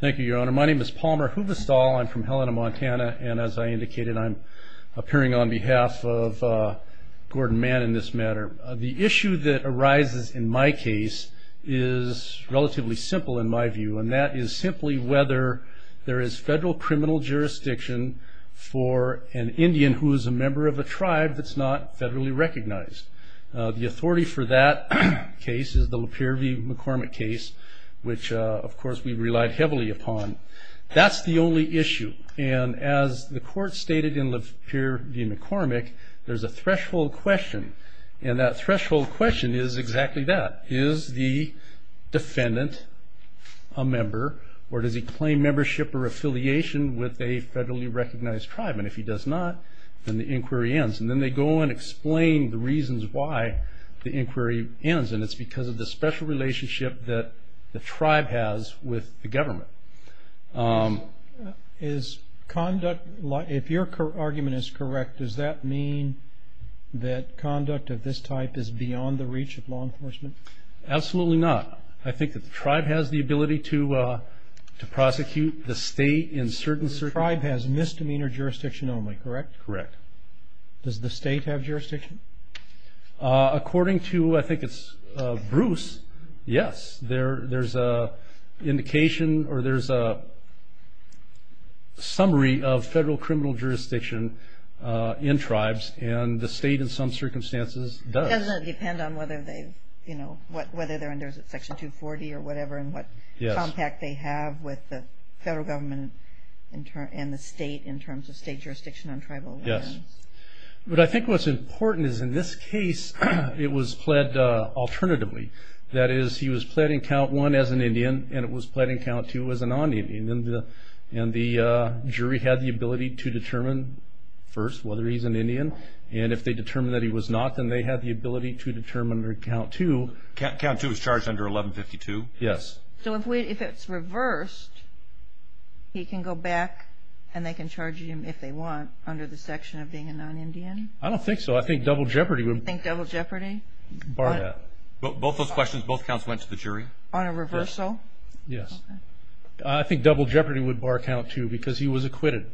Thank you, Your Honor. My name is Palmer Huvestal. I'm from Helena, Montana, and as I indicated, I'm appearing on behalf of Gordon Mann in this matter. The issue that arises in my case is relatively simple in my view, and that is simply whether there is federal criminal jurisdiction for an Indian who is a member of a tribe that's not federally recognized. The authority for that case is the Lapeer v. McCormick case, which of course we relied heavily upon. That's the only issue, and as the court stated in Lapeer v. McCormick, there's a threshold question, and that threshold question is exactly that. Is the defendant a member, or does he claim membership or affiliation with a federally recognized tribe? And if he does not, then the inquiry ends, and then they go and explain the reasons why the inquiry ends, and it's because of the special relationship that the tribe has with the government. If your argument is correct, does that mean that conduct of this type is beyond the reach of law enforcement? Absolutely not. I think that the tribe has the ability to prosecute the state in certain circumstances. The tribe has misdemeanor jurisdiction only, correct? Correct. Does the state have jurisdiction? According to, I think it's Bruce, yes. There's an indication, or there's a summary of federal criminal jurisdiction in tribes, and the state in some circumstances does. Does it depend on whether they're under Section 240 or whatever, and what contact they have with the federal government and the state in terms of state jurisdiction on tribal lands? But I think what's important is in this case, it was pled alternatively. That is, he was pled in Count 1 as an Indian, and it was pled in Count 2 as a non-Indian. And the jury had the ability to determine first whether he's an Indian, and if they determined that he was not, then they had the ability to determine under Count 2. Count 2 is charged under 1152? Yes. So if it's reversed, he can go back, and they can charge him if they want under the section of being a non-Indian? I don't think so. I think Double Jeopardy would... You think Double Jeopardy? Bar that. Both those questions, both counts went to the jury? On a reversal? Yes. Okay. I think Double Jeopardy would bar Count 2 because he was acquitted.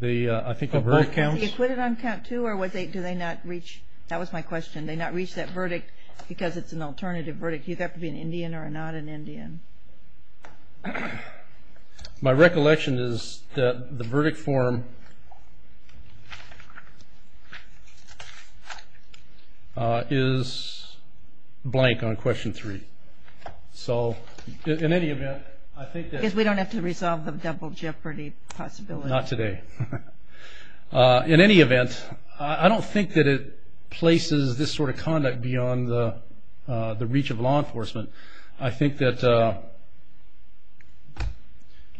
I think on both counts... Was he acquitted on Count 2, or did they not reach... That was my question. Did they not reach that verdict because it's an alternative verdict? He'd have to be an Indian or not an Indian. My recollection is that the verdict form is blank on Question 3. So in any event, I think that... Because we don't have to resolve the Double Jeopardy possibility. Not today. In any event, I don't think that it places this sort of conduct beyond the reach of law enforcement. I think that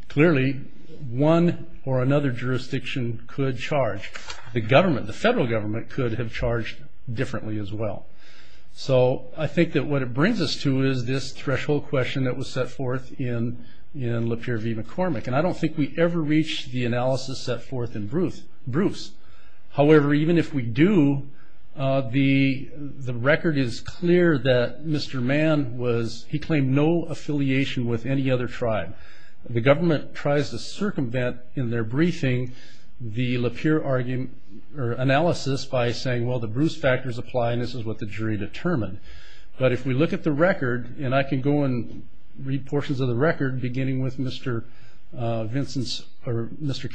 clearly one or another jurisdiction could charge. The government, the federal government, could have charged differently as well. So I think that what it brings us to is this threshold question that was set forth in Lapeer v. McCormick. And I don't think we ever reached the analysis set forth in Bruce. However, even if we do, the record is clear that Mr. Mann was... He claimed no affiliation with any other tribe. The government tries to circumvent in their briefing the Lapeer analysis by saying, well, the Bruce factors apply and this is what the jury determined. But if we look at the record, and I can go and read portions of the record, beginning with Mr.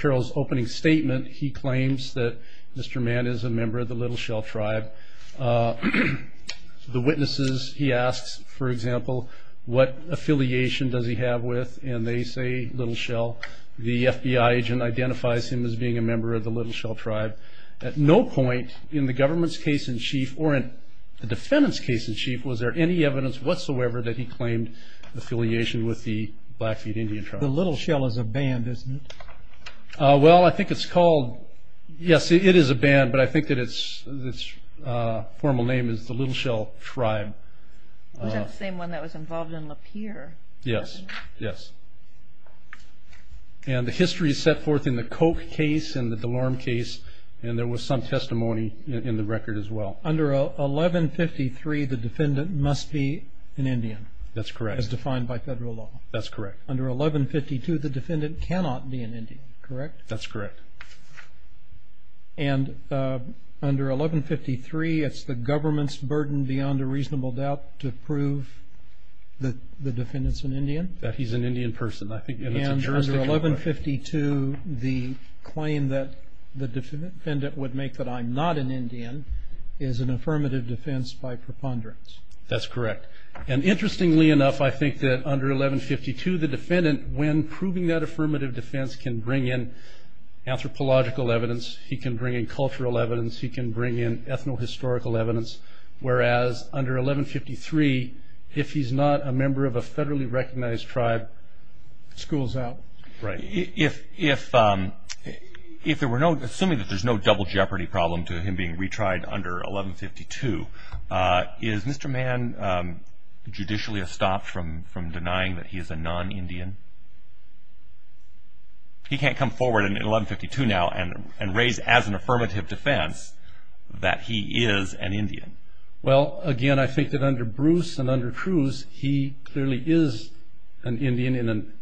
Carroll's opening statement, he claims that Mr. Mann is a member of the Little Shell tribe. The witnesses, he asks, for example, what affiliation does he have with, and they say Little Shell. The FBI agent identifies him as being a member of the Little Shell tribe. At no point in the government's case in chief or in the defendant's case in chief was there any evidence whatsoever that he claimed affiliation with the Blackfeet Indian tribe. The Little Shell is a band, isn't it? Well, I think it's called... Yes, it is a band, but I think that its formal name is the Little Shell tribe. Was that the same one that was involved in Lapeer? Yes, yes. And the history is set forth in the Koch case and the DeLorme case, and there was some testimony in the record as well. Under 1153, the defendant must be an Indian. That's correct. As defined by federal law. That's correct. Under 1152, the defendant cannot be an Indian, correct? That's correct. And under 1153, it's the government's burden beyond a reasonable doubt to prove that the defendant's an Indian? That he's an Indian person. And under 1152, the claim that the defendant would make that I'm not an Indian is an affirmative defense by preponderance. That's correct. And interestingly enough, I think that under 1152, the defendant, when proving that affirmative defense, can bring in anthropological evidence. He can bring in cultural evidence. He can bring in ethno-historical evidence. Whereas under 1153, if he's not a member of a federally recognized tribe, school's out. Right. Assuming that there's no double jeopardy problem to him being retried under 1152, is Mr. Mann judicially estopped from denying that he is a non-Indian? He can't come forward in 1152 now and raise as an affirmative defense that he is an Indian. Well, again, I think that under Bruce and under Cruz, he clearly is an Indian in an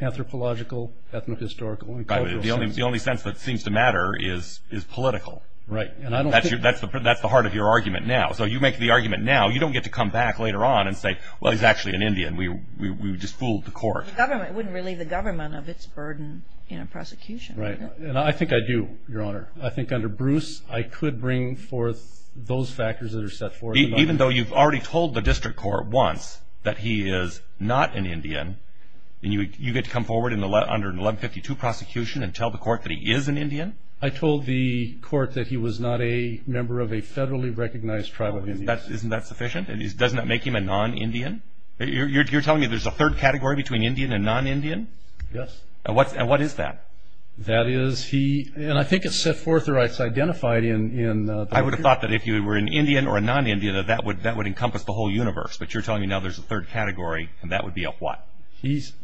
anthropological, ethno-historical and cultural sense. The only sense that seems to matter is political. Right. That's the heart of your argument now. So you make the argument now. You don't get to come back later on and say, well, he's actually an Indian. We just fooled the court. It wouldn't relieve the government of its burden in a prosecution. Right. I think I do, Your Honor. I think under Bruce, I could bring forth those factors that are set forth. Even though you've already told the district court once that he is not an Indian, and you get to come forward under an 1152 prosecution and tell the court that he is an Indian? I told the court that he was not a member of a federally recognized tribe of Indians. Isn't that sufficient? Doesn't that make him a non-Indian? You're telling me there's a third category between Indian and non-Indian? Yes. And what is that? That is he, and I think it's set forth or it's identified in the record. I would have thought that if you were an Indian or a non-Indian, that that would encompass the whole universe. But you're telling me now there's a third category, and that would be of what? He's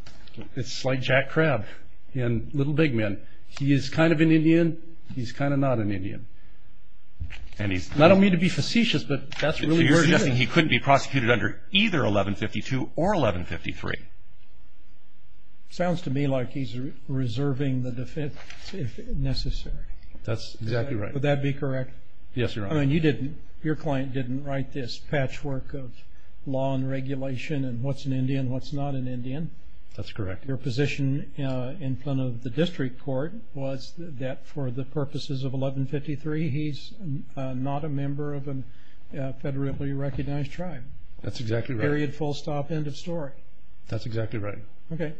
like Jack Crabb in Little Big Men. He is kind of an Indian. He's kind of not an Indian. I don't mean to be facetious, but that's really what he is. So you're suggesting he couldn't be prosecuted under either 1152 or 1153? Sounds to me like he's reserving the defense if necessary. That's exactly right. Would that be correct? Yes, Your Honor. I mean, your client didn't write this patchwork of law and regulation and what's an Indian and what's not an Indian? That's correct. Your position in front of the district court was that for the purposes of 1153, he's not a member of a federally recognized tribe. That's exactly right. Period, full stop, end of story. That's exactly right. Okay.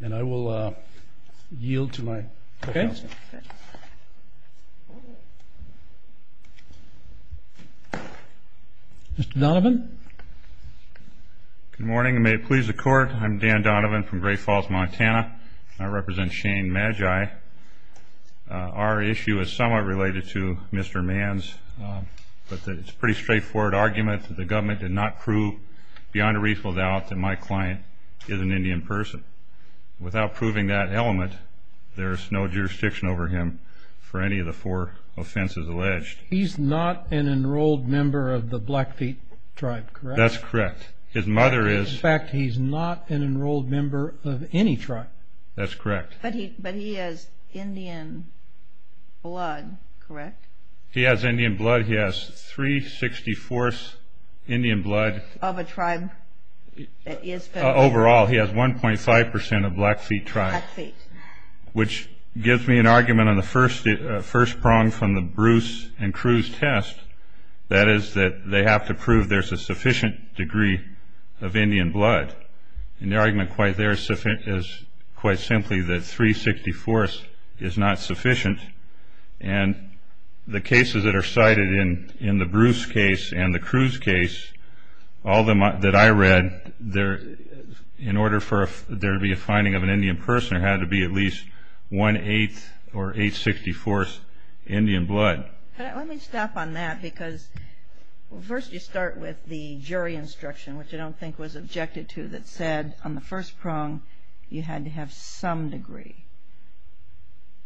And I will yield to my defense. Okay. Mr. Donovan. Good morning and may it please the Court. I'm Dan Donovan from Great Falls, Montana. I represent Shane Magi. Our issue is somewhat related to Mr. Mann's, but it's a pretty straightforward argument that the government did not prove, beyond a reasonable doubt, that my client is an Indian person. Without proving that element, there is no jurisdiction over him for any of the four offenses alleged. He's not an enrolled member of the Blackfeet tribe, correct? That's correct. His mother is. In fact, he's not an enrolled member of any tribe. That's correct. But he has Indian blood, correct? He has Indian blood. He has three-sixty-fourths Indian blood. Of a tribe that is. Overall, he has 1.5% of Blackfeet tribe. Blackfeet. Which gives me an argument on the first prong from the Bruce and Cruz test, that is that they have to prove there's a sufficient degree of Indian blood. And the argument quite there is quite simply that three-sixty-fourths is not sufficient. And the cases that are cited in the Bruce case and the Cruz case, all that I read, in order for there to be a finding of an Indian person, there had to be at least one-eighth or eight-sixty-fourths Indian blood. Let me stop on that, because first you start with the jury instruction, which I don't think was objected to, that said on the first prong you had to have some degree.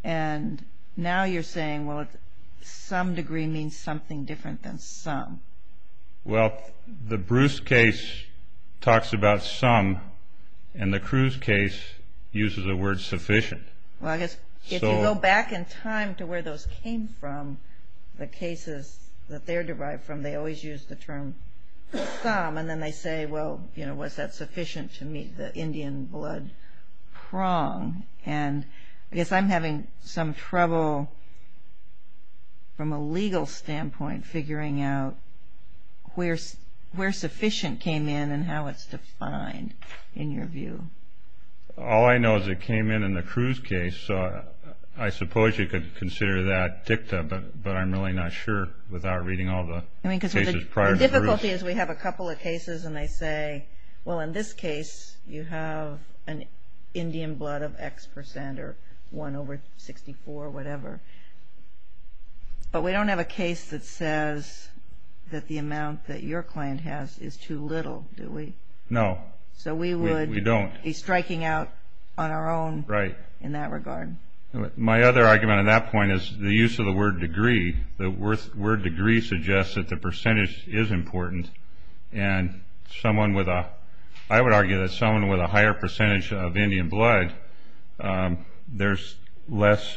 And now you're saying, well, some degree means something different than some. Well, the Bruce case talks about some, and the Cruz case uses the word sufficient. Well, I guess if you go back in time to where those came from, the cases that they're derived from, they always use the term some. And then they say, well, you know, was that sufficient to meet the Indian blood prong? And I guess I'm having some trouble, from a legal standpoint, figuring out where sufficient came in and how it's defined, in your view. All I know is it came in in the Cruz case, so I suppose you could consider that dictum. But I'm really not sure, without reading all the cases prior to the Cruz. The difficulty is we have a couple of cases, and they say, well, in this case you have an Indian blood of X percent, or one over 64, whatever. But we don't have a case that says that the amount that your client has is too little, do we? No, we don't. So we would be striking out on our own in that regard. My other argument on that point is the use of the word degree. The word degree suggests that the percentage is important. And I would argue that someone with a higher percentage of Indian blood, there's less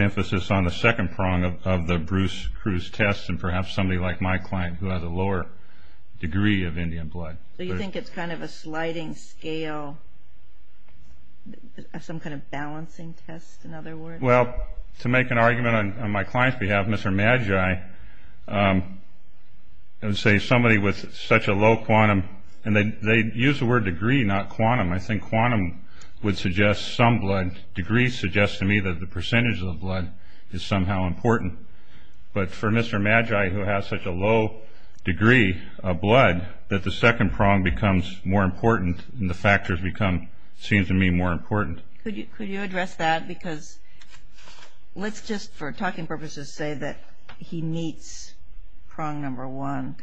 emphasis on the second prong of the Bruce Cruz test, and perhaps somebody like my client who has a lower degree of Indian blood. So you think it's kind of a sliding scale, some kind of balancing test, in other words? Well, to make an argument on my client's behalf, Mr. Magi, I would say somebody with such a low quantum, and they use the word degree, not quantum. I think quantum would suggest some blood. Degree suggests to me that the percentage of the blood is somehow important. But for Mr. Magi, who has such a low degree of blood, that the second prong becomes more important and the factors become, seems to me, more important. Could you address that? Because let's just, for talking purposes, say that he meets prong number one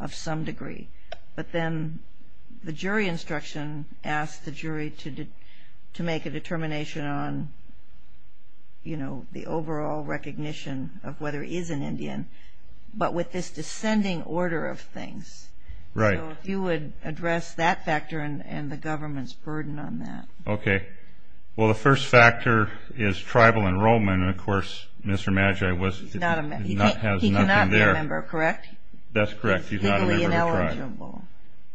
of some degree. But then the jury instruction asks the jury to make a determination on, you know, the overall recognition of whether he is an Indian, but with this descending order of things. Right. So if you would address that factor and the government's burden on that. Okay. Well, the first factor is tribal enrollment. And, of course, Mr. Magi has nothing there. He cannot be a member, correct? That's correct. He's not a member of the tribe. Legally ineligible.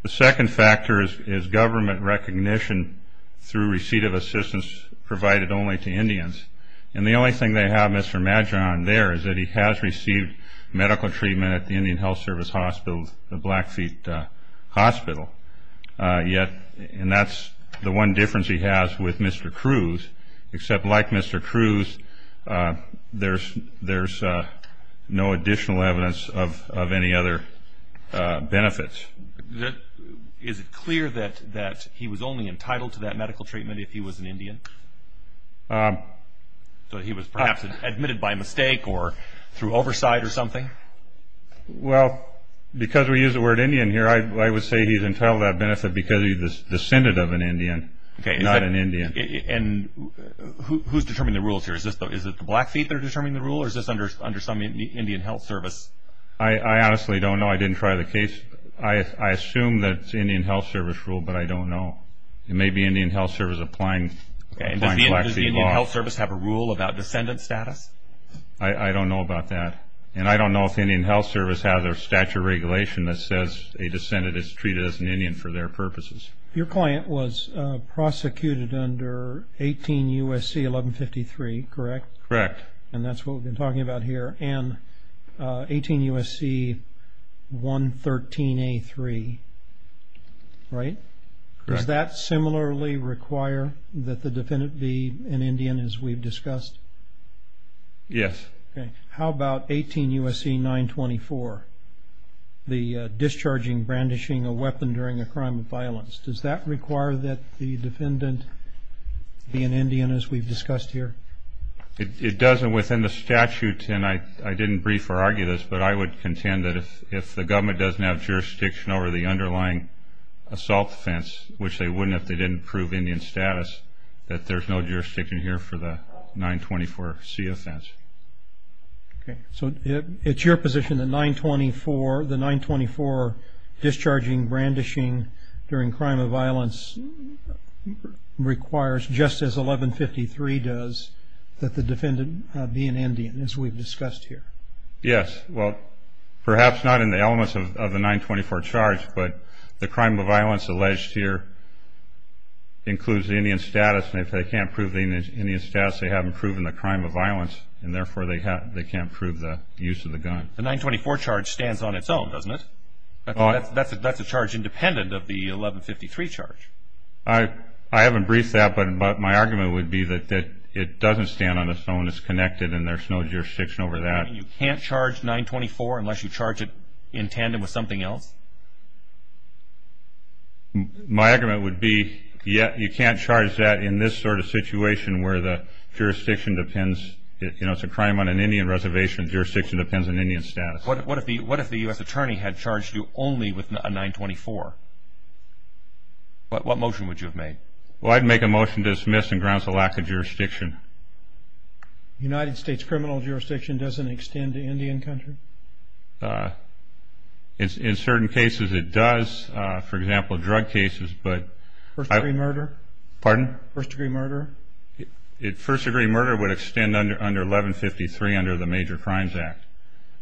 The second factor is government recognition through receipt of assistance provided only to Indians. And the only thing they have Mr. Magi on there is that he has received medical treatment at the Indian Health Service Hospital, the Blackfeet Hospital. Yet, and that's the one difference he has with Mr. Cruz, except like Mr. Cruz, there's no additional evidence of any other benefits. Is it clear that he was only entitled to that medical treatment if he was an Indian? So he was perhaps admitted by mistake or through oversight or something? Well, because we use the word Indian here, I would say he's entitled to that benefit because he's a descendant of an Indian, not an Indian. And who's determining the rules here? Is it the Blackfeet that are determining the rule or is this under some Indian Health Service? I honestly don't know. I didn't try the case. I assume that it's Indian Health Service rule, but I don't know. It may be Indian Health Service applying Blackfeet law. Does the Indian Health Service have a rule about descendant status? I don't know about that. And I don't know if the Indian Health Service has a statute of regulation that says a descendant is treated as an Indian for their purposes. Your client was prosecuted under 18 U.S.C. 1153, correct? Correct. And that's what we've been talking about here, and 18 U.S.C. 113A3, right? Correct. Does that similarly require that the defendant be an Indian as we've discussed? Yes. Okay. How about 18 U.S.C. 924, the discharging brandishing a weapon during a crime of violence? Does that require that the defendant be an Indian as we've discussed here? It doesn't within the statute, and I didn't brief or argue this, but I would contend that if the government doesn't have jurisdiction over the underlying assault offense, which they wouldn't if they didn't prove Indian status, that there's no jurisdiction here for the 924 C offense. Okay. So it's your position that the 924 discharging brandishing during a crime of violence requires, just as 1153 does, that the defendant be an Indian as we've discussed here? Yes. Well, perhaps not in the elements of the 924 charge, but the crime of violence alleged here includes Indian status, and if they can't prove Indian status, they haven't proven the crime of violence, and therefore they can't prove the use of the gun. The 924 charge stands on its own, doesn't it? That's a charge independent of the 1153 charge. I haven't briefed that, but my argument would be that it doesn't stand on its own. It's connected, and there's no jurisdiction over that. So you're saying you can't charge 924 unless you charge it in tandem with something else? My argument would be, yeah, you can't charge that in this sort of situation where the jurisdiction depends. You know, it's a crime on an Indian reservation. Jurisdiction depends on Indian status. What if the U.S. attorney had charged you only with a 924? What motion would you have made? Well, I'd make a motion to dismiss and grounds the lack of jurisdiction. The United States criminal jurisdiction doesn't extend to Indian country? In certain cases it does. For example, drug cases. First-degree murder? Pardon? First-degree murder? First-degree murder would extend under 1153 under the Major Crimes Act.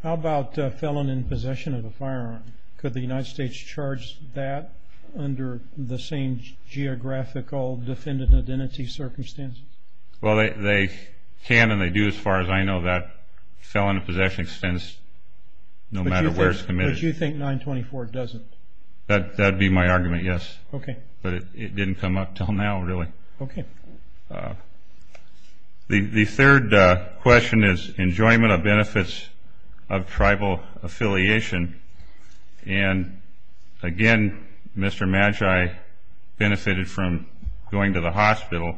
How about felon in possession of a firearm? Could the United States charge that under the same geographical defendant identity circumstances? Well, they can and they do as far as I know. That felon in possession extends no matter where it's committed. But you think 924 doesn't? That would be my argument, yes. Okay. But it didn't come up until now, really. Okay. The third question is enjoyment of benefits of tribal affiliation. And, again, Mr. Magi benefited from going to the hospital.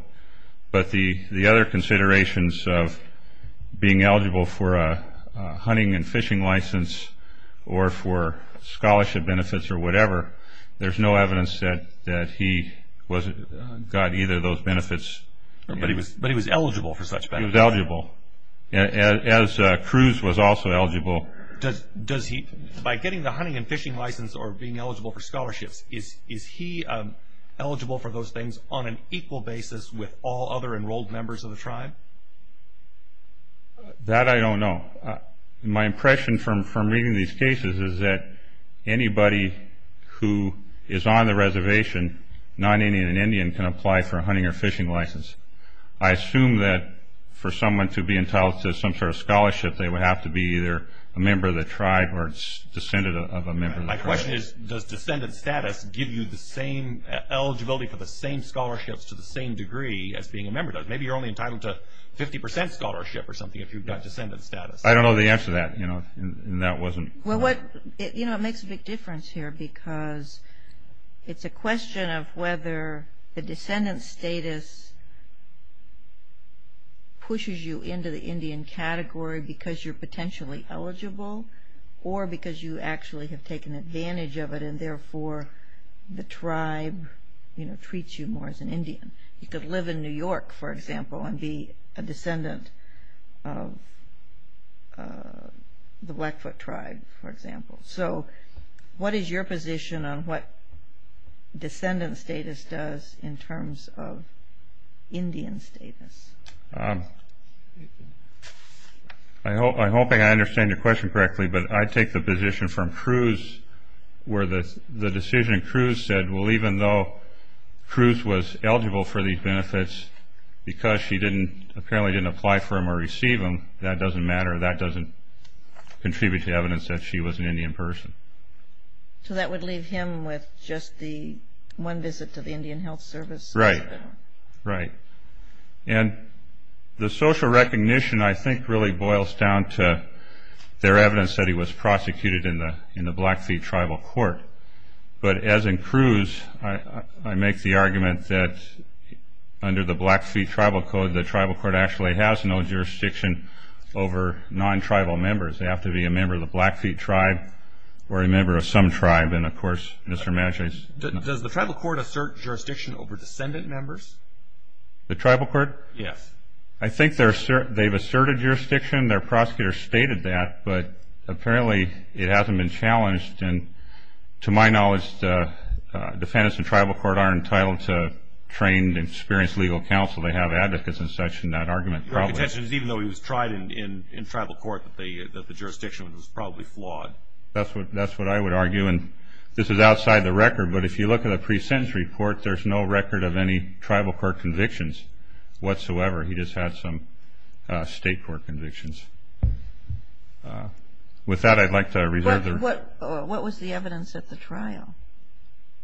But the other considerations of being eligible for a hunting and fishing license or for scholarship benefits or whatever, there's no evidence that he got either of those benefits. But he was eligible for such benefits? He was eligible. As Cruz was also eligible. By getting the hunting and fishing license or being eligible for scholarships, is he eligible for those things on an equal basis with all other enrolled members of the tribe? That I don't know. My impression from reading these cases is that anybody who is on the reservation, non-Indian and Indian, can apply for a hunting or fishing license. I assume that for someone to be entitled to some sort of scholarship, they would have to be either a member of the tribe or descendant of a member of the tribe. My question is, does descendant status give you the same eligibility for the same scholarships to the same degree as being a member does? Maybe you're only entitled to 50% scholarship or something if you've got descendant status. I don't know the answer to that, and that wasn't part of it. You know, it makes a big difference here because it's a question of whether the descendant status pushes you into the Indian category because you're potentially eligible or because you actually have taken advantage of it and, therefore, the tribe treats you more as an Indian. You could live in New York, for example, and be a descendant of the Blackfoot tribe, for example. So what is your position on what descendant status does in terms of Indian status? I'm hoping I understand your question correctly, but I take the position from Cruz, where the decision Cruz said, well, even though Cruz was eligible for these benefits because she apparently didn't apply for them or receive them, that doesn't matter. That doesn't contribute to evidence that she was an Indian person. So that would leave him with just the one visit to the Indian Health Service? Right. Right. And the social recognition, I think, really boils down to their evidence that he was prosecuted in the Blackfeet tribal court. But as in Cruz, I make the argument that under the Blackfeet tribal code, the tribal court actually has no jurisdiction over non-tribal members. They have to be a member of the Blackfeet tribe or a member of some tribe. And, of course, Mr. Madras. Does the tribal court assert jurisdiction over descendant members? The tribal court? Yes. I think they've asserted jurisdiction. Their prosecutor stated that, but apparently it hasn't been challenged. And to my knowledge, the defendants in tribal court aren't entitled to trained, experienced legal counsel. They have advocates and such in that argument. Your contention is even though he was tried in tribal court, that the jurisdiction was probably flawed? That's what I would argue. And this is outside the record, but if you look at a pre-sentence report, there's no record of any tribal court convictions whatsoever. He just had some state court convictions. With that, I'd like to reserve the room. What was the evidence at the trial?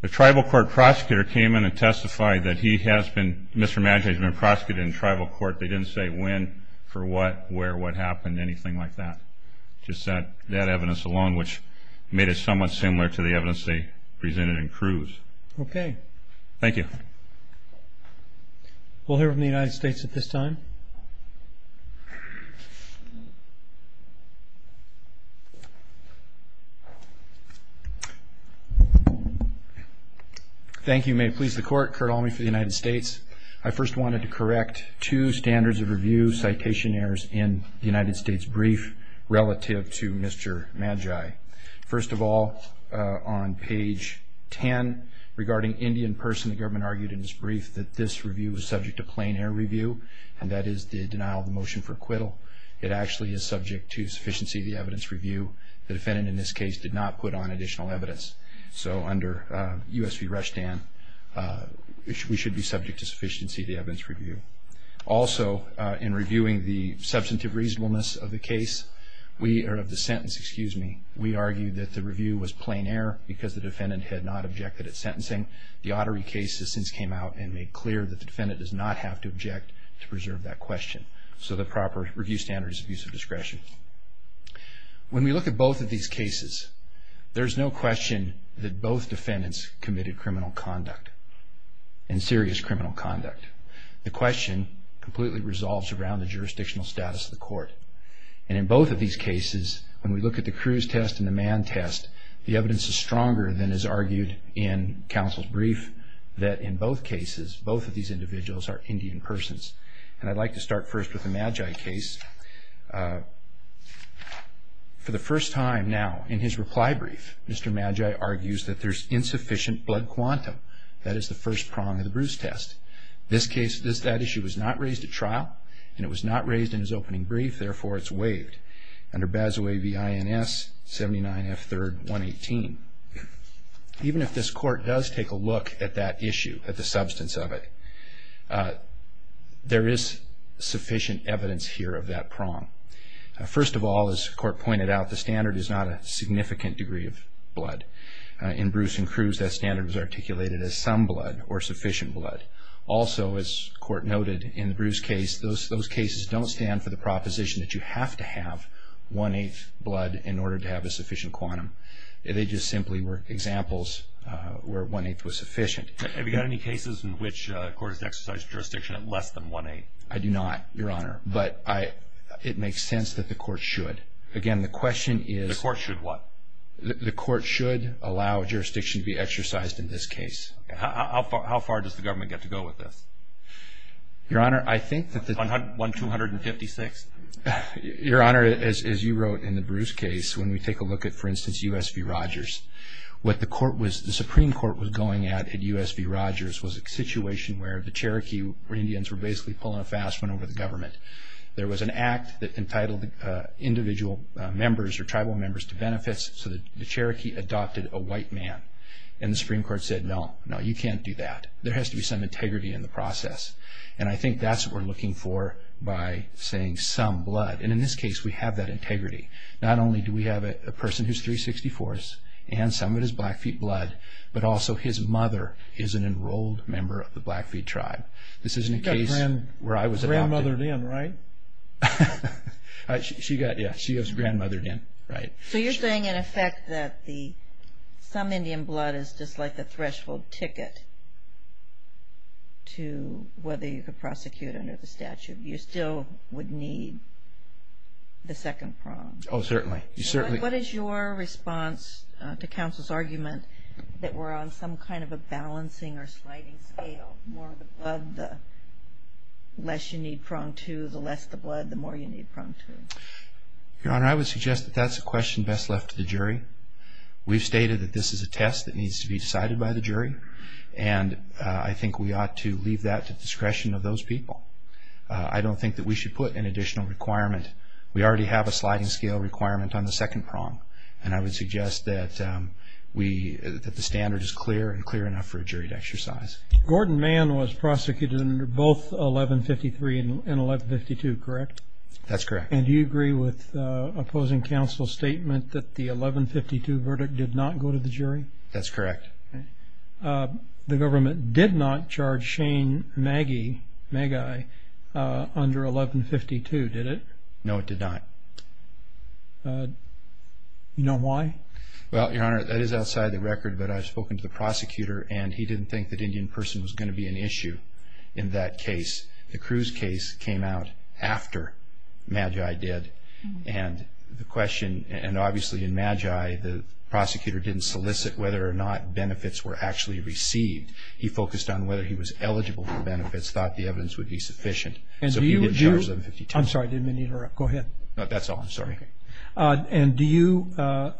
The tribal court prosecutor came in and testified that he has been, Mr. Madras has been prosecuted in tribal court. They didn't say when, for what, where, what happened, anything like that. Just that evidence alone, which made it somewhat similar to the evidence they presented in Cruz. Okay. Thank you. We'll hear from the United States at this time. Thank you. May it please the Court. Curt Almey for the United States. I first wanted to correct two standards of review citation errors in the United States brief relative to Mr. Magi. First of all, on page 10, regarding Indian person, the government argued in its brief that this review was subject to plain air review, and that is the denial of the motion for acquittal. It actually is subject to sufficiency of the evidence review. The defendant in this case did not put on additional evidence. So under USV Rushdan, we should be subject to sufficiency of the evidence review. Also, in reviewing the substantive reasonableness of the case, or of the sentence, excuse me, we argued that the review was plain air because the defendant had not objected at sentencing. The Ottery cases since came out and made clear that the defendant does not have to object to preserve that question. So the proper review standard is abuse of discretion. When we look at both of these cases, there's no question that both defendants committed criminal conduct and serious criminal conduct. The question completely resolves around the jurisdictional status of the court. And in both of these cases, when we look at the Cruz test and the Mann test, the evidence is stronger than is argued in counsel's brief, that in both cases, both of these individuals are Indian persons. And I'd like to start first with the Magi case. For the first time now, in his reply brief, Mr. Magi argues that there's insufficient blood quantum. That is the first prong of the Bruce test. This case, that issue was not raised at trial, and it was not raised in his opening brief. Therefore, it's waived under Bazaway v. Ins. 79 F. 3rd. 118. Even if this court does take a look at that issue, at the substance of it, there is sufficient evidence here of that prong. First of all, as the court pointed out, the standard is not a significant degree of blood. In Bruce and Cruz, that standard was articulated as some blood or sufficient blood. Also, as the court noted, in the Bruce case, those cases don't stand for the proposition that you have to have one-eighth blood in order to have a sufficient quantum. They just simply were examples where one-eighth was sufficient. Have you got any cases in which the court has exercised jurisdiction at less than one-eighth? I do not, Your Honor, but it makes sense that the court should. Again, the question is... The court should what? The court should allow jurisdiction to be exercised in this case. How far does the government get to go with this? Your Honor, I think that... One-two hundred and fifty-six? Your Honor, as you wrote in the Bruce case, when we take a look at, for instance, U.S. v. Rogers, what the Supreme Court was going at at U.S. v. Rogers was a situation where the Cherokee Indians were basically pulling a fast one over the government. There was an act that entitled individual members or tribal members to benefits, so the Cherokee adopted a white man. And the Supreme Court said, no, no, you can't do that. There has to be some integrity in the process. And I think that's what we're looking for by saying some blood. And in this case, we have that integrity. Not only do we have a person who's three-sixty-fourths and some of it is Blackfeet blood, but also his mother is an enrolled member of the Blackfeet tribe. This isn't a case where I was adopted. She got grandmothered in, right? Yeah, she got grandmothered in, right. So you're saying, in effect, that some Indian blood is just like a threshold ticket to whether you could prosecute under the statute. You still would need the second prong. Oh, certainly. What is your response to counsel's argument that we're on some kind of a balancing or sliding scale, the more the blood, the less you need prong two, the less the blood, the more you need prong two? Your Honor, I would suggest that that's a question best left to the jury. We've stated that this is a test that needs to be decided by the jury, and I think we ought to leave that to the discretion of those people. I don't think that we should put an additional requirement. We already have a sliding scale requirement on the second prong, and I would suggest that the standard is clear and clear enough for a jury to exercise. Gordon Mann was prosecuted under both 1153 and 1152, correct? That's correct. And do you agree with opposing counsel's statement that the 1152 verdict did not go to the jury? That's correct. The government did not charge Shane Maggie, Maggie, under 1152, did it? No, it did not. Do you know why? Well, Your Honor, that is outside the record, but I've spoken to the prosecutor and he didn't think that Indian person was going to be an issue in that case. The Cruz case came out after Maggie did, and the question, and obviously in Maggie the prosecutor didn't solicit whether or not benefits were actually received. He focused on whether he was eligible for benefits, thought the evidence would be sufficient. So he didn't charge 1152. I'm sorry, did I interrupt? Go ahead. That's all, I'm sorry. And do you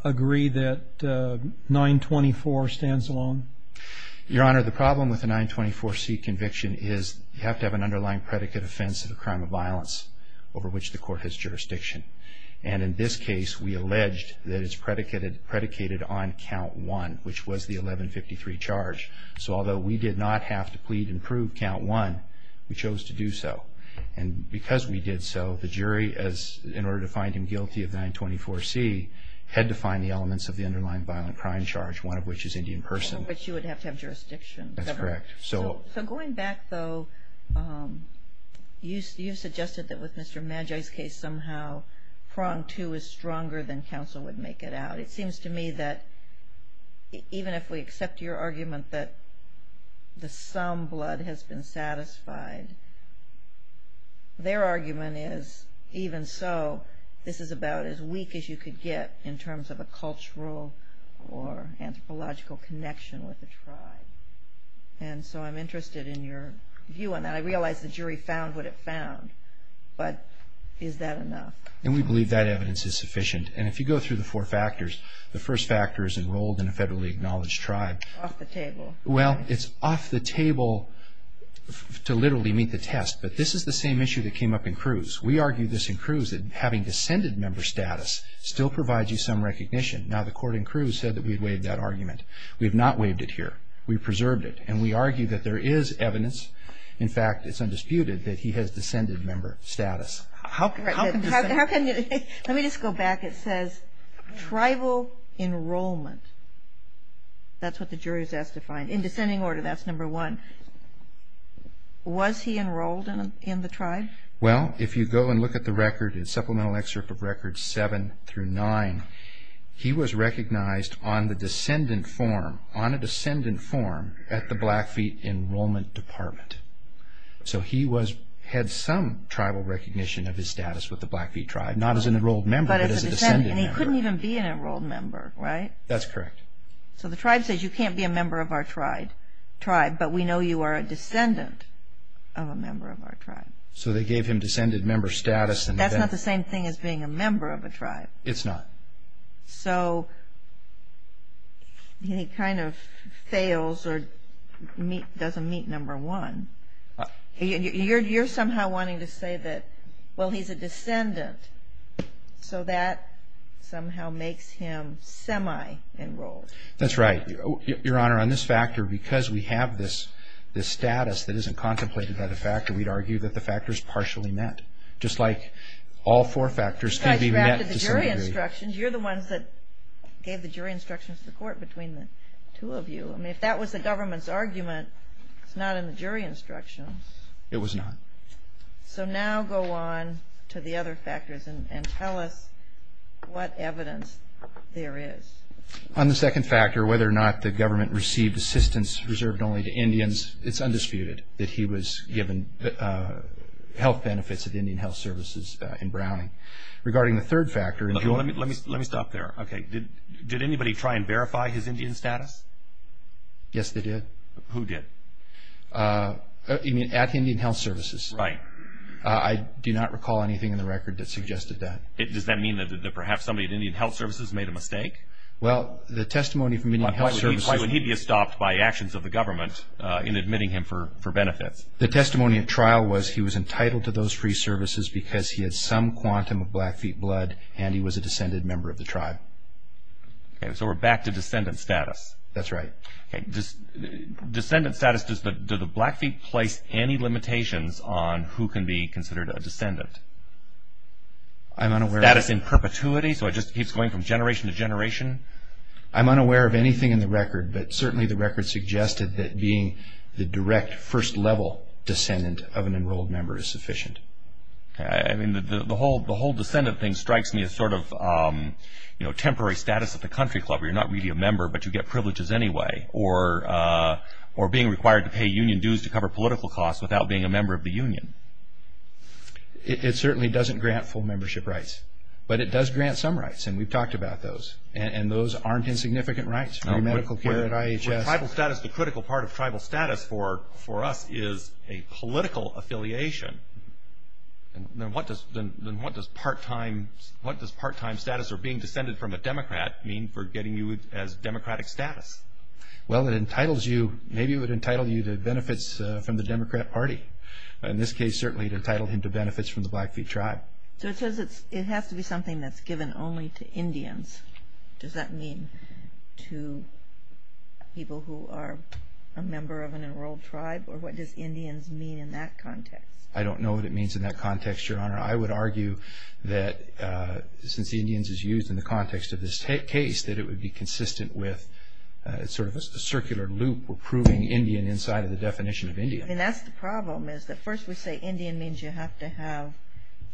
agree that 924 stands alone? Your Honor, the problem with the 924C conviction is you have to have an underlying predicate offense of a crime of violence over which the court has jurisdiction. And in this case we alleged that it's predicated on Count 1, which was the 1153 charge. So although we did not have to plead and prove Count 1, we chose to do so. And because we did so, the jury, in order to find him guilty of 924C, had to find the elements of the underlying violent crime charge, one of which is Indian person. Over which you would have to have jurisdiction. That's correct. So going back though, you suggested that with Mr. Maggie's case somehow, Prong 2 is stronger than counsel would make it out. But it seems to me that even if we accept your argument that the sum blood has been satisfied, their argument is even so, this is about as weak as you could get in terms of a cultural or anthropological connection with the tribe. And so I'm interested in your view on that. I realize the jury found what it found, but is that enough? And we believe that evidence is sufficient. And if you go through the four factors, the first factor is enrolled in a federally acknowledged tribe. Off the table. Well, it's off the table to literally meet the test. But this is the same issue that came up in Cruz. We argue this in Cruz, that having descended member status still provides you some recognition. Now, the court in Cruz said that we'd waived that argument. We have not waived it here. We preserved it. And we argue that there is evidence. In fact, it's undisputed that he has descended member status. Let me just go back. It says tribal enrollment. That's what the jury was asked to find. In descending order, that's number one. Was he enrolled in the tribe? Well, if you go and look at the supplemental excerpt of records seven through nine, he was recognized on a descendant form at the Blackfeet Enrollment Department. So he had some tribal recognition of his status with the Blackfeet tribe, not as an enrolled member, but as a descendant member. And he couldn't even be an enrolled member, right? That's correct. So the tribe says, you can't be a member of our tribe, but we know you are a descendant of a member of our tribe. So they gave him descended member status. That's not the same thing as being a member of a tribe. It's not. So he kind of fails or doesn't meet number one. You're somehow wanting to say that, well, he's a descendant, so that somehow makes him semi-enrolled. That's right. Your Honor, on this factor, because we have this status that isn't contemplated by the factor, we'd argue that the factor is partially met, just like all four factors can be met to some degree. The jury instructions, you're the ones that gave the jury instructions to the court between the two of you. I mean, if that was the government's argument, it's not in the jury instructions. It was not. So now go on to the other factors and tell us what evidence there is. On the second factor, whether or not the government received assistance reserved only to Indians, it's undisputed that he was given health benefits at the Indian Health Services in Browning. Regarding the third factor. Let me stop there. Did anybody try and verify his Indian status? Yes, they did. Who did? At Indian Health Services. Right. I do not recall anything in the record that suggested that. Does that mean that perhaps somebody at Indian Health Services made a mistake? Well, the testimony from Indian Health Services. Why would he be stopped by actions of the government in admitting him for benefits? The testimony at trial was he was entitled to those free services because he had some quantum of Blackfeet blood and he was a descended member of the tribe. Okay. So we're back to descendant status. That's right. Descendant status, does the Blackfeet place any limitations on who can be considered a descendant? I'm unaware of that. Status in perpetuity? So it just keeps going from generation to generation? I'm unaware of anything in the record, but certainly the record suggested that being the direct first level descendant of an enrolled member is sufficient. The whole descendant thing strikes me as sort of temporary status at the country club where you're not really a member but you get privileges anyway or being required to pay union dues to cover political costs without being a member of the union. It certainly doesn't grant full membership rights, but it does grant some rights and we've talked about those. And those aren't insignificant rights, free medical care at IHS. Where tribal status, the critical part of tribal status for us is a political affiliation, then what does part-time status or being descended from a Democrat mean for getting you as Democratic status? Well, it entitles you, maybe it would entitle you to benefits from the Democrat party. In this case, certainly it would entitle him to benefits from the Blackfeet tribe. So it says it has to be something that's given only to Indians. Does that mean to people who are a member of an enrolled tribe or what does Indians mean in that context? I don't know what it means in that context, Your Honor. I would argue that since Indians is used in the context of this case, that it would be consistent with sort of a circular loop or proving Indian inside of the definition of Indian. I mean, that's the problem is that first we say Indian means you have to have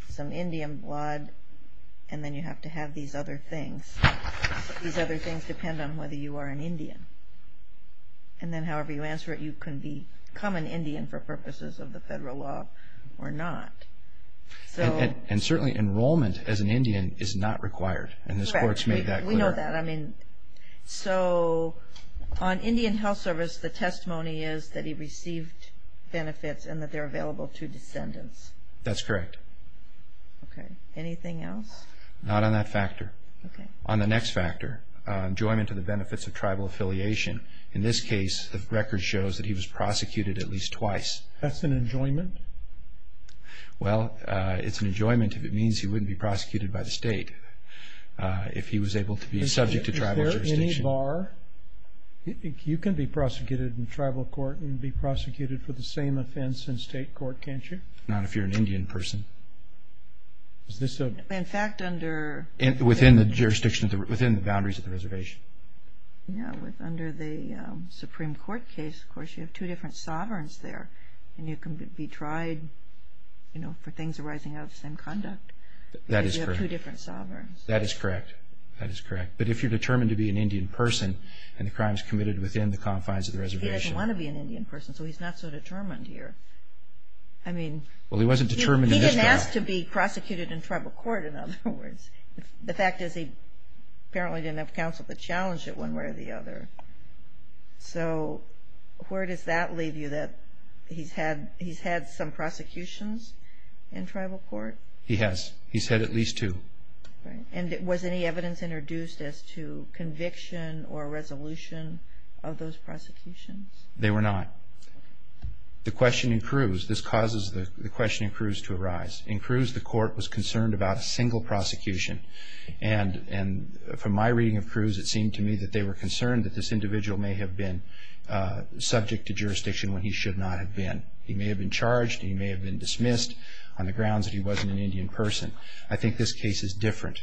some Indian blood and then you have to have these other things. These other things depend on whether you are an Indian. And then however you answer it, you can become an Indian for purposes of the federal law or not. And certainly enrollment as an Indian is not required and this court's made that clear. Correct. We know that. So on Indian health service, the testimony is that he received benefits and that they're available to descendants. That's correct. Anything else? Not on that factor. On the next factor, enjoyment to the benefits of tribal affiliation. In this case, the record shows that he was prosecuted at least twice. That's an enjoyment? Well, it's an enjoyment if it means he wouldn't be prosecuted by the state. If he was able to be subject to tribal jurisdiction. Is there any bar? You can be prosecuted in tribal court and be prosecuted for the same offense in state court, can't you? Not if you're an Indian person. Is this a... In fact, under... Within the boundaries of the reservation. Yeah, under the Supreme Court case, of course, you have two different sovereigns there. And you can be tried for things arising out of the same conduct. That is correct. You have two different sovereigns. That is correct. That is correct. But if you're determined to be an Indian person and the crime is committed within the confines of the reservation... He doesn't want to be an Indian person, so he's not so determined here. I mean... Well, he wasn't determined in this case. He didn't ask to be prosecuted in tribal court, in other words. The fact is he apparently didn't have counsel to challenge it one way or the other. So where does that leave you, that he's had some prosecutions in tribal court? He has. He's had at least two. Right. And was any evidence introduced as to conviction or resolution of those prosecutions? They were not. The question in Cruz, this causes the question in Cruz to arise. In Cruz, the court was concerned about a single prosecution. And from my reading of Cruz, it seemed to me that they were concerned that this individual may have been subject to jurisdiction when he should not have been. He may have been charged. He may have been dismissed on the grounds that he wasn't an Indian person. I think this case is different.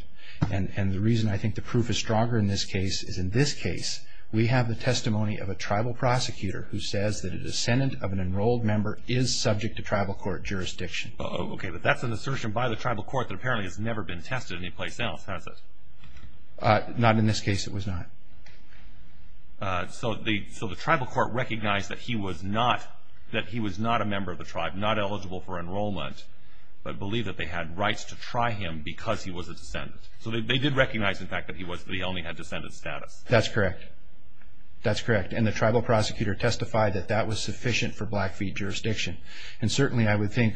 And the reason I think the proof is stronger in this case is in this case we have the testimony of a tribal prosecutor who says that a descendant of an enrolled member is subject to tribal court jurisdiction. Okay, but that's an assertion by the tribal court that apparently has never been tested anyplace else, has it? Not in this case, it was not. So the tribal court recognized that he was not a member of the tribe, not eligible for enrollment, but believed that they had rights to try him because he was a descendant. So they did recognize, in fact, that he only had descendant status. That's correct. That's correct. And the tribal prosecutor testified that that was sufficient for Blackfeet jurisdiction. And certainly I would think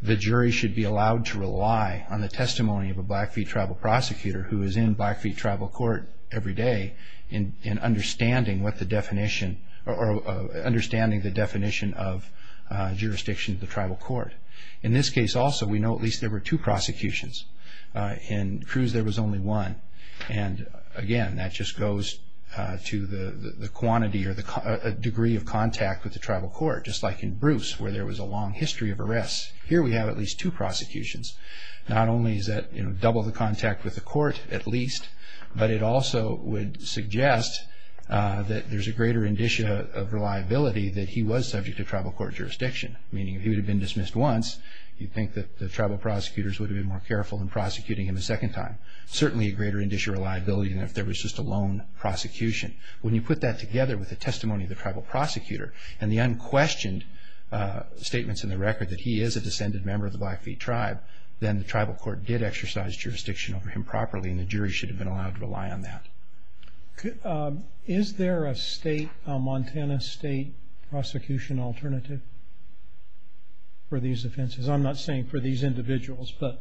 the jury should be allowed to rely on the testimony of a Blackfeet tribal prosecutor who is in Blackfeet tribal court every day in understanding what the definition or understanding the definition of jurisdiction of the tribal court. In this case also we know at least there were two prosecutions. In Cruz there was only one. And, again, that just goes to the quantity or the degree of contact with the tribal court, just like in Bruce where there was a long history of arrests. Here we have at least two prosecutions. Not only is that double the contact with the court at least, but it also would suggest that there's a greater indicia of reliability that he was subject to tribal court jurisdiction, meaning if he had been dismissed once, you'd think that the tribal prosecutors would have been more careful in prosecuting him a second time. Certainly a greater indicia of reliability than if there was just a lone prosecution. When you put that together with the testimony of the tribal prosecutor and the unquestioned statements in the record that he is a descendant member of the Blackfeet tribe, then the tribal court did exercise jurisdiction over him properly and the jury should have been allowed to rely on that. Is there a Montana state prosecution alternative for these offenses? I'm not saying for these individuals, but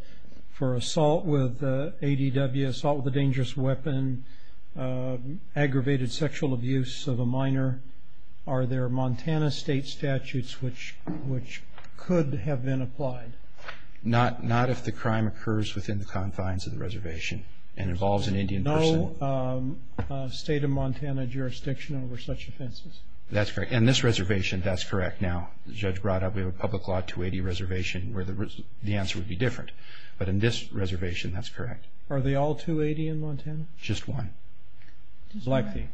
for assault with ADW, assault with a dangerous weapon, aggravated sexual abuse of a minor, are there Montana state statutes which could have been applied? Not if the crime occurs within the confines of the reservation and involves an Indian person. No state of Montana jurisdiction over such offenses? That's correct. In this reservation, that's correct. Now, Judge Brada, we have a public law 280 reservation where the answer would be different. But in this reservation, that's correct. Are they all 280 in Montana? Just one. Blackfeet?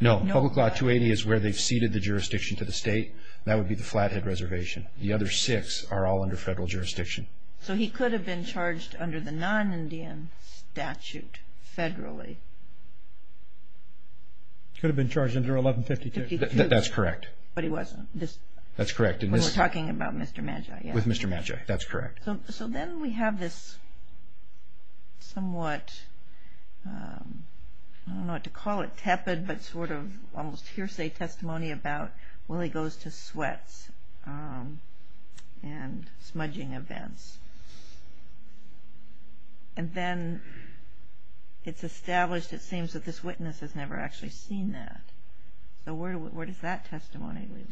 No. Public law 280 is where they've ceded the jurisdiction to the state. That would be the Flathead Reservation. The other six are all under federal jurisdiction. So he could have been charged under the non-Indian statute federally? Could have been charged under 1152. That's correct. But he wasn't? That's correct. When we're talking about Mr. Magi? With Mr. Magi. That's correct. So then we have this somewhat, I don't know what to call it, good but sort of almost hearsay testimony about, well, he goes to sweats and smudging events. And then it's established, it seems, that this witness has never actually seen that. So where does that testimony lead?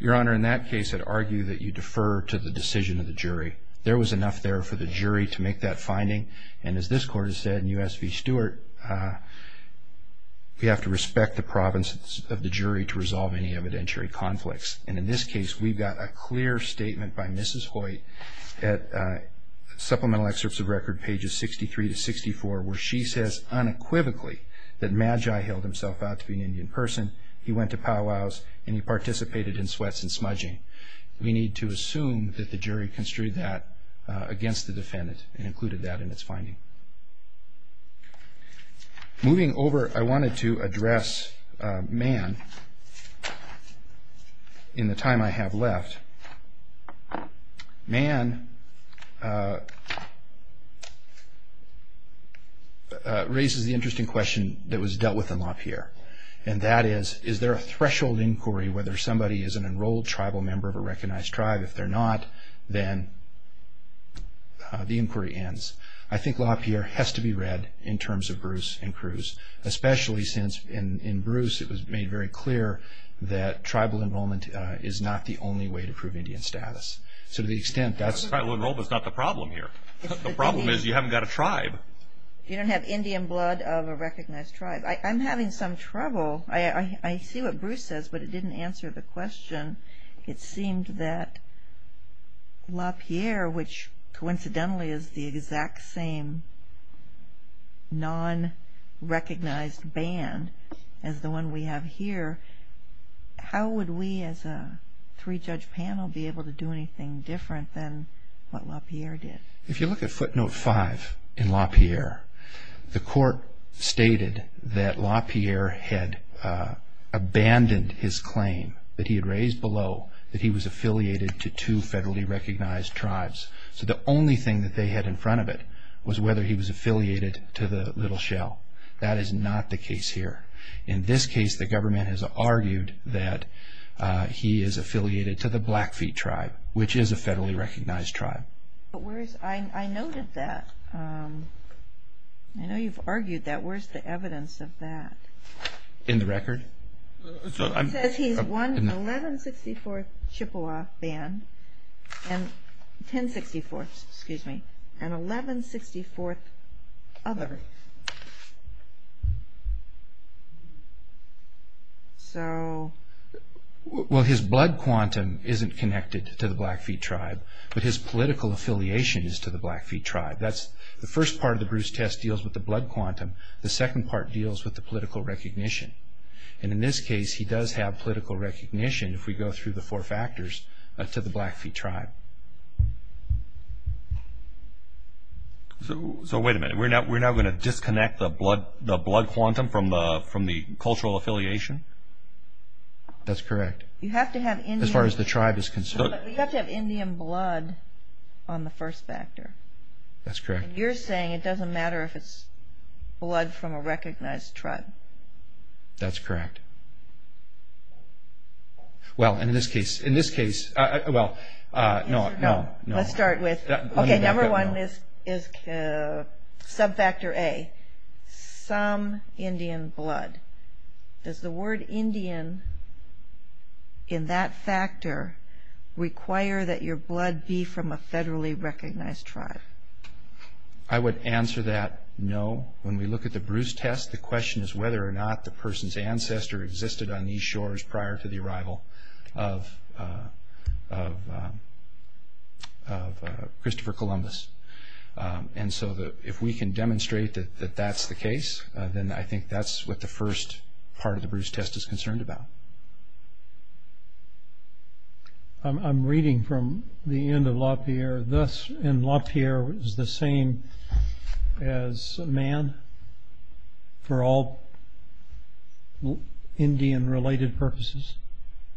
Your Honor, in that case, I'd argue that you defer to the decision of the jury. There was enough there for the jury to make that finding. And as this Court has said in U.S. v. Stewart, we have to respect the province of the jury to resolve any evidentiary conflicts. And in this case, we've got a clear statement by Mrs. Hoyt at Supplemental Excerpts of Record pages 63 to 64, where she says unequivocally that Magi held himself out to be an Indian person. He went to powwows and he participated in sweats and smudging. We need to assume that the jury construed that against the defendant and included that in its finding. Moving over, I wanted to address Mann in the time I have left. Mann raises the interesting question that was dealt with in LaPierre, and that is, is there a threshold inquiry whether somebody is an enrolled tribal member of a recognized tribe? If they're not, then the inquiry ends. I think LaPierre has to be read in terms of Bruce and Cruz, especially since in Bruce it was made very clear that tribal enrollment is not the only way to prove Indian status. So to the extent that's... Tribal enrollment is not the problem here. The problem is you haven't got a tribe. You don't have Indian blood of a recognized tribe. I'm having some trouble. I see what Bruce says, but it didn't answer the question. It seemed that LaPierre, which coincidentally is the exact same non-recognized band as the one we have here, how would we as a three-judge panel be able to do anything different than what LaPierre did? If you look at footnote five in LaPierre, the court stated that LaPierre had abandoned his claim that he had raised below that he was affiliated to two federally recognized tribes. So the only thing that they had in front of it was whether he was affiliated to the Little Shell. That is not the case here. In this case, the government has argued that he is affiliated to the Blackfeet tribe, which is a federally recognized tribe. I noted that. I know you've argued that. Where's the evidence of that? In the record? It says he's one 1164th Chippewa band, 1064th, excuse me, and 1164th other. His blood quantum isn't connected to the Blackfeet tribe, but his political affiliation is to the Blackfeet tribe. The first part of the Bruce test deals with the blood quantum. The second part deals with the political recognition. In this case, he does have political recognition, if we go through the four factors, to the Blackfeet tribe. So wait a minute. We're now going to disconnect the blood quantum from the cultural affiliation? That's correct. As far as the tribe is concerned. You have to have Indian blood on the first factor. That's correct. You're saying it doesn't matter if it's blood from a recognized tribe. That's correct. Well, in this case, in this case, well, no, no, no. Let's start with, okay, number one is sub-factor A. Some Indian blood. Does the word Indian in that factor require that your blood be from a federally recognized tribe? I would answer that no. When we look at the Bruce test, the question is whether or not the person's ancestor existed on these shores prior to the arrival of Christopher Columbus. And so if we can demonstrate that that's the case, then I think that's what the first part of the Bruce test is concerned about. I'm reading from the end of LaPierre. Thus, in LaPierre, is the same as man for all Indian-related purposes?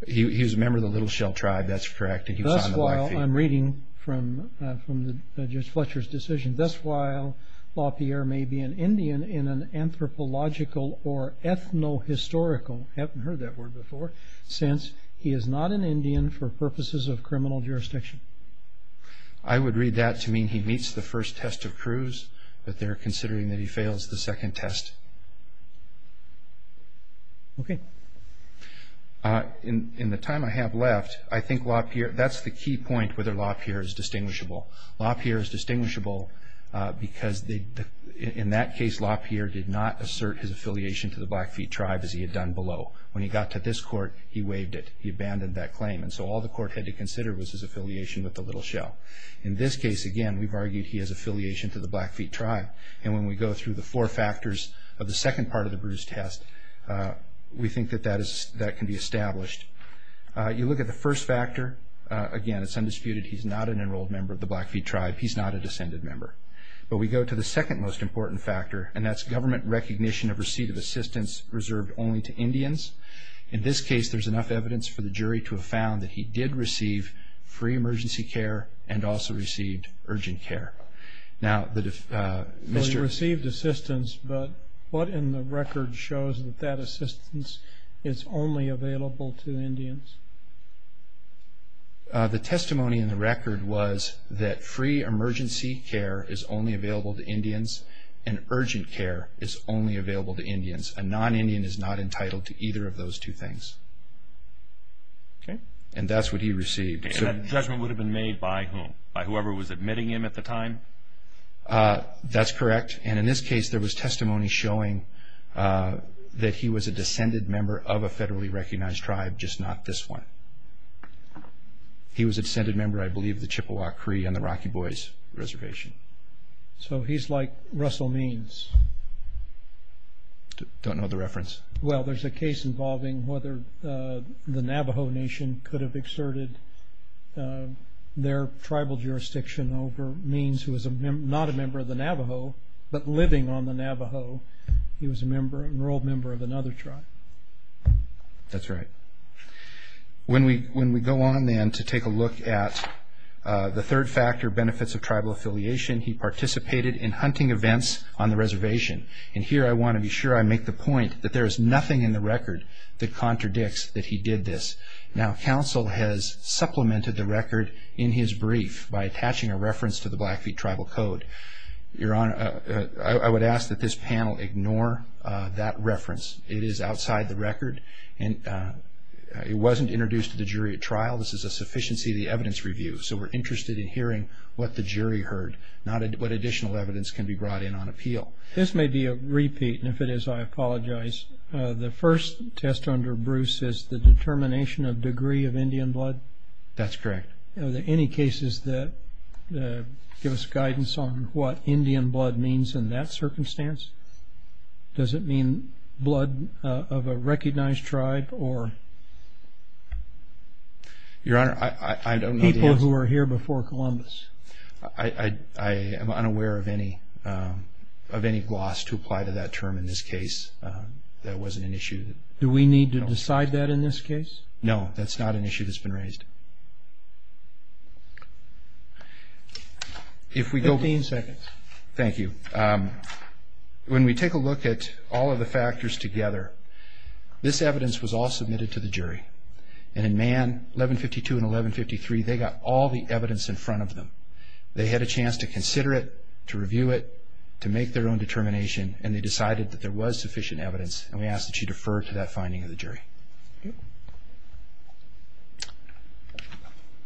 He was a member of the Little Shell tribe. That's correct. Thus while, I'm reading from Judge Fletcher's decision, thus while LaPierre may be an Indian in an anthropological or ethno-historical, I haven't heard that word before, since he is not an Indian for purposes of criminal jurisdiction. I would read that to mean he meets the first test of Cruz, but they're considering that he fails the second test. Okay. In the time I have left, I think LaPierre, that's the key point, whether LaPierre is distinguishable. LaPierre is distinguishable because in that case, LaPierre did not assert his affiliation to the Blackfeet tribe as he had done below. When he got to this court, he waived it. He abandoned that claim, and so all the court had to consider was his affiliation with the Little Shell. In this case, again, we've argued he has affiliation to the Blackfeet tribe, and when we go through the four factors of the second part of the Bruce test, we think that that can be established. You look at the first factor. Again, it's undisputed he's not an enrolled member of the Blackfeet tribe. He's not a descended member. But we go to the second most important factor, and that's government recognition of receipt of assistance reserved only to Indians. In this case, there's enough evidence for the jury to have found that he did receive free emergency care and also received urgent care. Now, Mr. He received assistance, but what in the record shows that that assistance is only available to Indians? The testimony in the record was that free emergency care is only available to Indians and urgent care is only available to Indians. A non-Indian is not entitled to either of those two things, and that's what he received. And that judgment would have been made by whom? By whoever was admitting him at the time? That's correct, and in this case, there was testimony showing that he was a descended member of a federally recognized tribe, just not this one. He was a descended member, I believe, of the Chippewa Cree and the Rocky Boys Reservation. So he's like Russell Means? Don't know the reference. Well, there's a case involving whether the Navajo Nation could have exerted their tribal jurisdiction over Means, who was not a member of the Navajo, but living on the Navajo. He was an enrolled member of another tribe. That's right. When we go on, then, to take a look at the third factor, benefits of tribal affiliation, he participated in hunting events on the reservation. And here I want to be sure I make the point that there is nothing in the record that contradicts that he did this. Now, counsel has supplemented the record in his brief by attaching a reference to the Blackfeet Tribal Code. Your Honor, I would ask that this panel ignore that reference. It is outside the record, and it wasn't introduced to the jury at trial. This is a sufficiency of the evidence review, so we're interested in hearing what the jury heard, not what additional evidence can be brought in on appeal. This may be a repeat, and if it is, I apologize. The first test under Bruce is the determination of degree of Indian blood. That's correct. Are there any cases that give us guidance on what Indian blood means in that circumstance? Does it mean blood of a recognized tribe or people who were here before Columbus? I am unaware of any gloss to apply to that term in this case. That wasn't an issue. Do we need to decide that in this case? No, that's not an issue that's been raised. Fifteen seconds. Thank you. When we take a look at all of the factors together, this evidence was all submitted to the jury, and in Mann 1152 and 1153, they got all the evidence in front of them. They had a chance to consider it, to review it, to make their own determination, and they decided that there was sufficient evidence, and we ask that you defer to that finding of the jury. Thank you.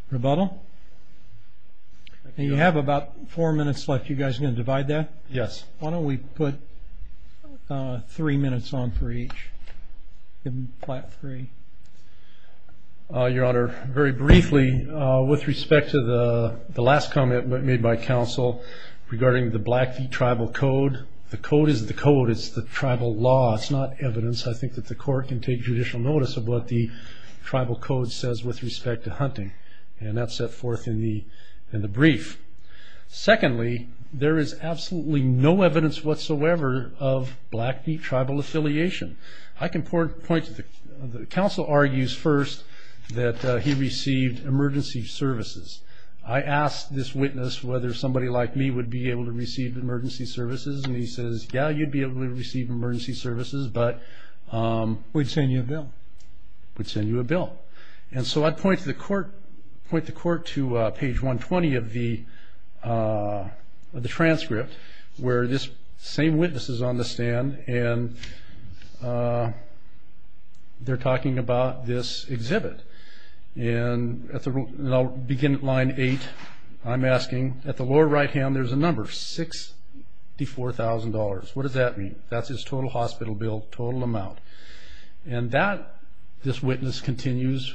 Rebuttal? You have about four minutes left. Are you guys going to divide that? Yes. Why don't we put three minutes on for each? Your Honor, very briefly, with respect to the last comment made by counsel regarding the Blackfeet Tribal Code, the code is the code. It's the tribal law. It's not evidence. I think that the court can take judicial notice of what the tribal code says with respect to hunting, and that's set forth in the brief. Secondly, there is absolutely no evidence whatsoever of Blackfeet Tribal affiliation. I can point to the counsel argues first that he received emergency services. I asked this witness whether somebody like me would be able to receive emergency services, and he says, yeah, you'd be able to receive emergency services, but we'd send you a bill. We'd send you a bill. And so I'd point the court to page 120 of the transcript where this same witness is on the stand, and they're talking about this exhibit. And I'll begin at line eight. I'm asking, at the lower right-hand, there's a number, $64,000. What does that mean? That's his total hospital bill, total amount. And that, this witness continues,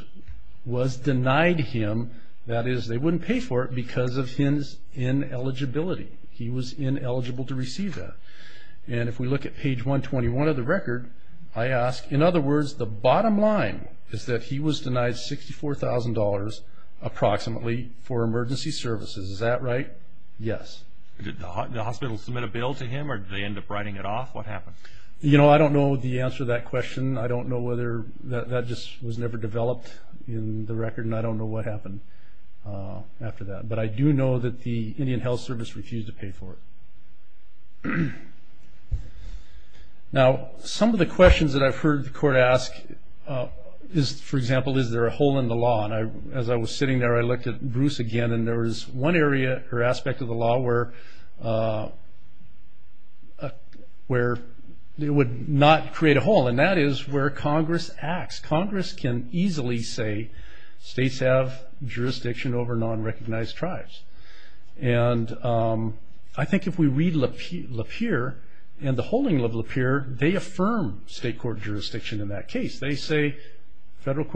was denied him. That is, they wouldn't pay for it because of his ineligibility. He was ineligible to receive that. And if we look at page 121 of the record, I ask, in other words, the bottom line is that he was denied $64,000 approximately for emergency services. Is that right? Yes. Did the hospital submit a bill to him, or did they end up writing it off? What happened? You know, I don't know the answer to that question. I don't know whether that just was never developed in the record, and I don't know what happened after that. But I do know that the Indian Health Service refused to pay for it. Now, some of the questions that I've heard the court ask is, for example, is there a hole in the law? And as I was sitting there, I looked at Bruce again, and there was one area or aspect of the law where it would not create a hole, and that is where Congress acts. Congress can easily say states have jurisdiction over non-recognized tribes. And I think if we read Lapeer and the holding of Lapeer, they affirm state court jurisdiction in that case. They say the federal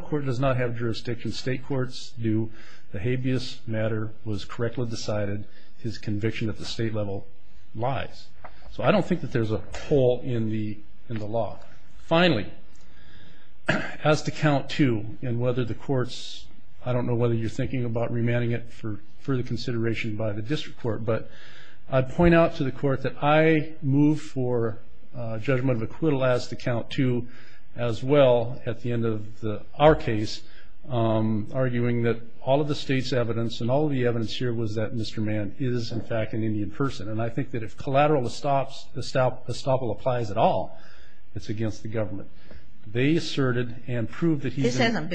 court does not have jurisdiction. State courts do. The habeas matter was correctly decided. His conviction at the state level lies. So I don't think that there's a hole in the law. Finally, as to count two and whether the courts – I don't know whether you're thinking about remanding it for further consideration by the district court, but I'd point out to the court that I move for judgment of acquittal as to count two as well at the end of our case, arguing that all of the state's evidence and all of the evidence here was that Mr. Mann is, in fact, an Indian person. And I think that if collateral estoppel applies at all, it's against the government. They asserted and proved that he's – No.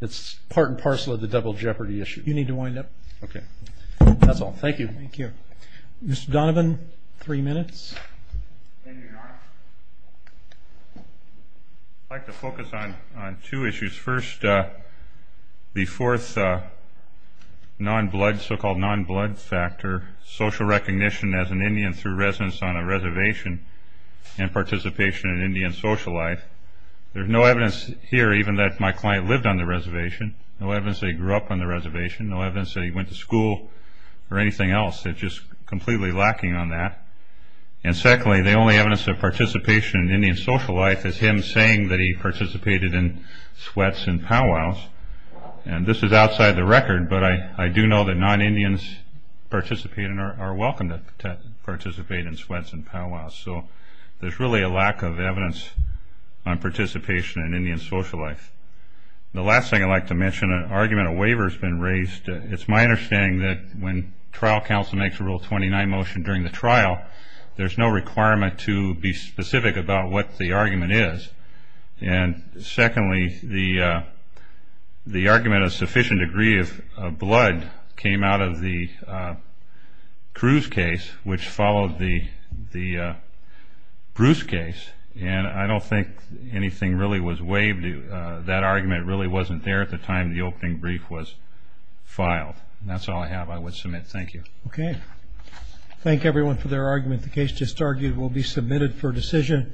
It's part and parcel of the double jeopardy issue. You need to wind up. Okay. That's all. Thank you. Thank you. Mr. Donovan, three minutes. I'd like to focus on two issues. First, the fourth so-called non-blood factor, social recognition as an Indian through residence on a reservation and participation in Indian social life. There's no evidence here even that my client lived on the reservation, no evidence that he grew up on the reservation, no evidence that he went to school or anything else. They're just completely lacking on that. And secondly, the only evidence of participation in Indian social life is him saying that he participated in sweats and powwows. And this is outside the record, but I do know that non-Indians participating are welcome to participate in sweats and powwows. So there's really a lack of evidence on participation in Indian social life. The last thing I'd like to mention, an argument, a waiver has been raised. It's my understanding that when trial counsel makes a Rule 29 motion during the trial, there's no requirement to be specific about what the argument is. And secondly, the argument of sufficient degree of blood came out of the Cruz case, which followed the Bruce case, and I don't think anything really was waived. That argument really wasn't there at the time the opening brief was filed. And that's all I have I would submit. Thank you. Okay. Thank everyone for their argument. The case just argued will be submitted for decision.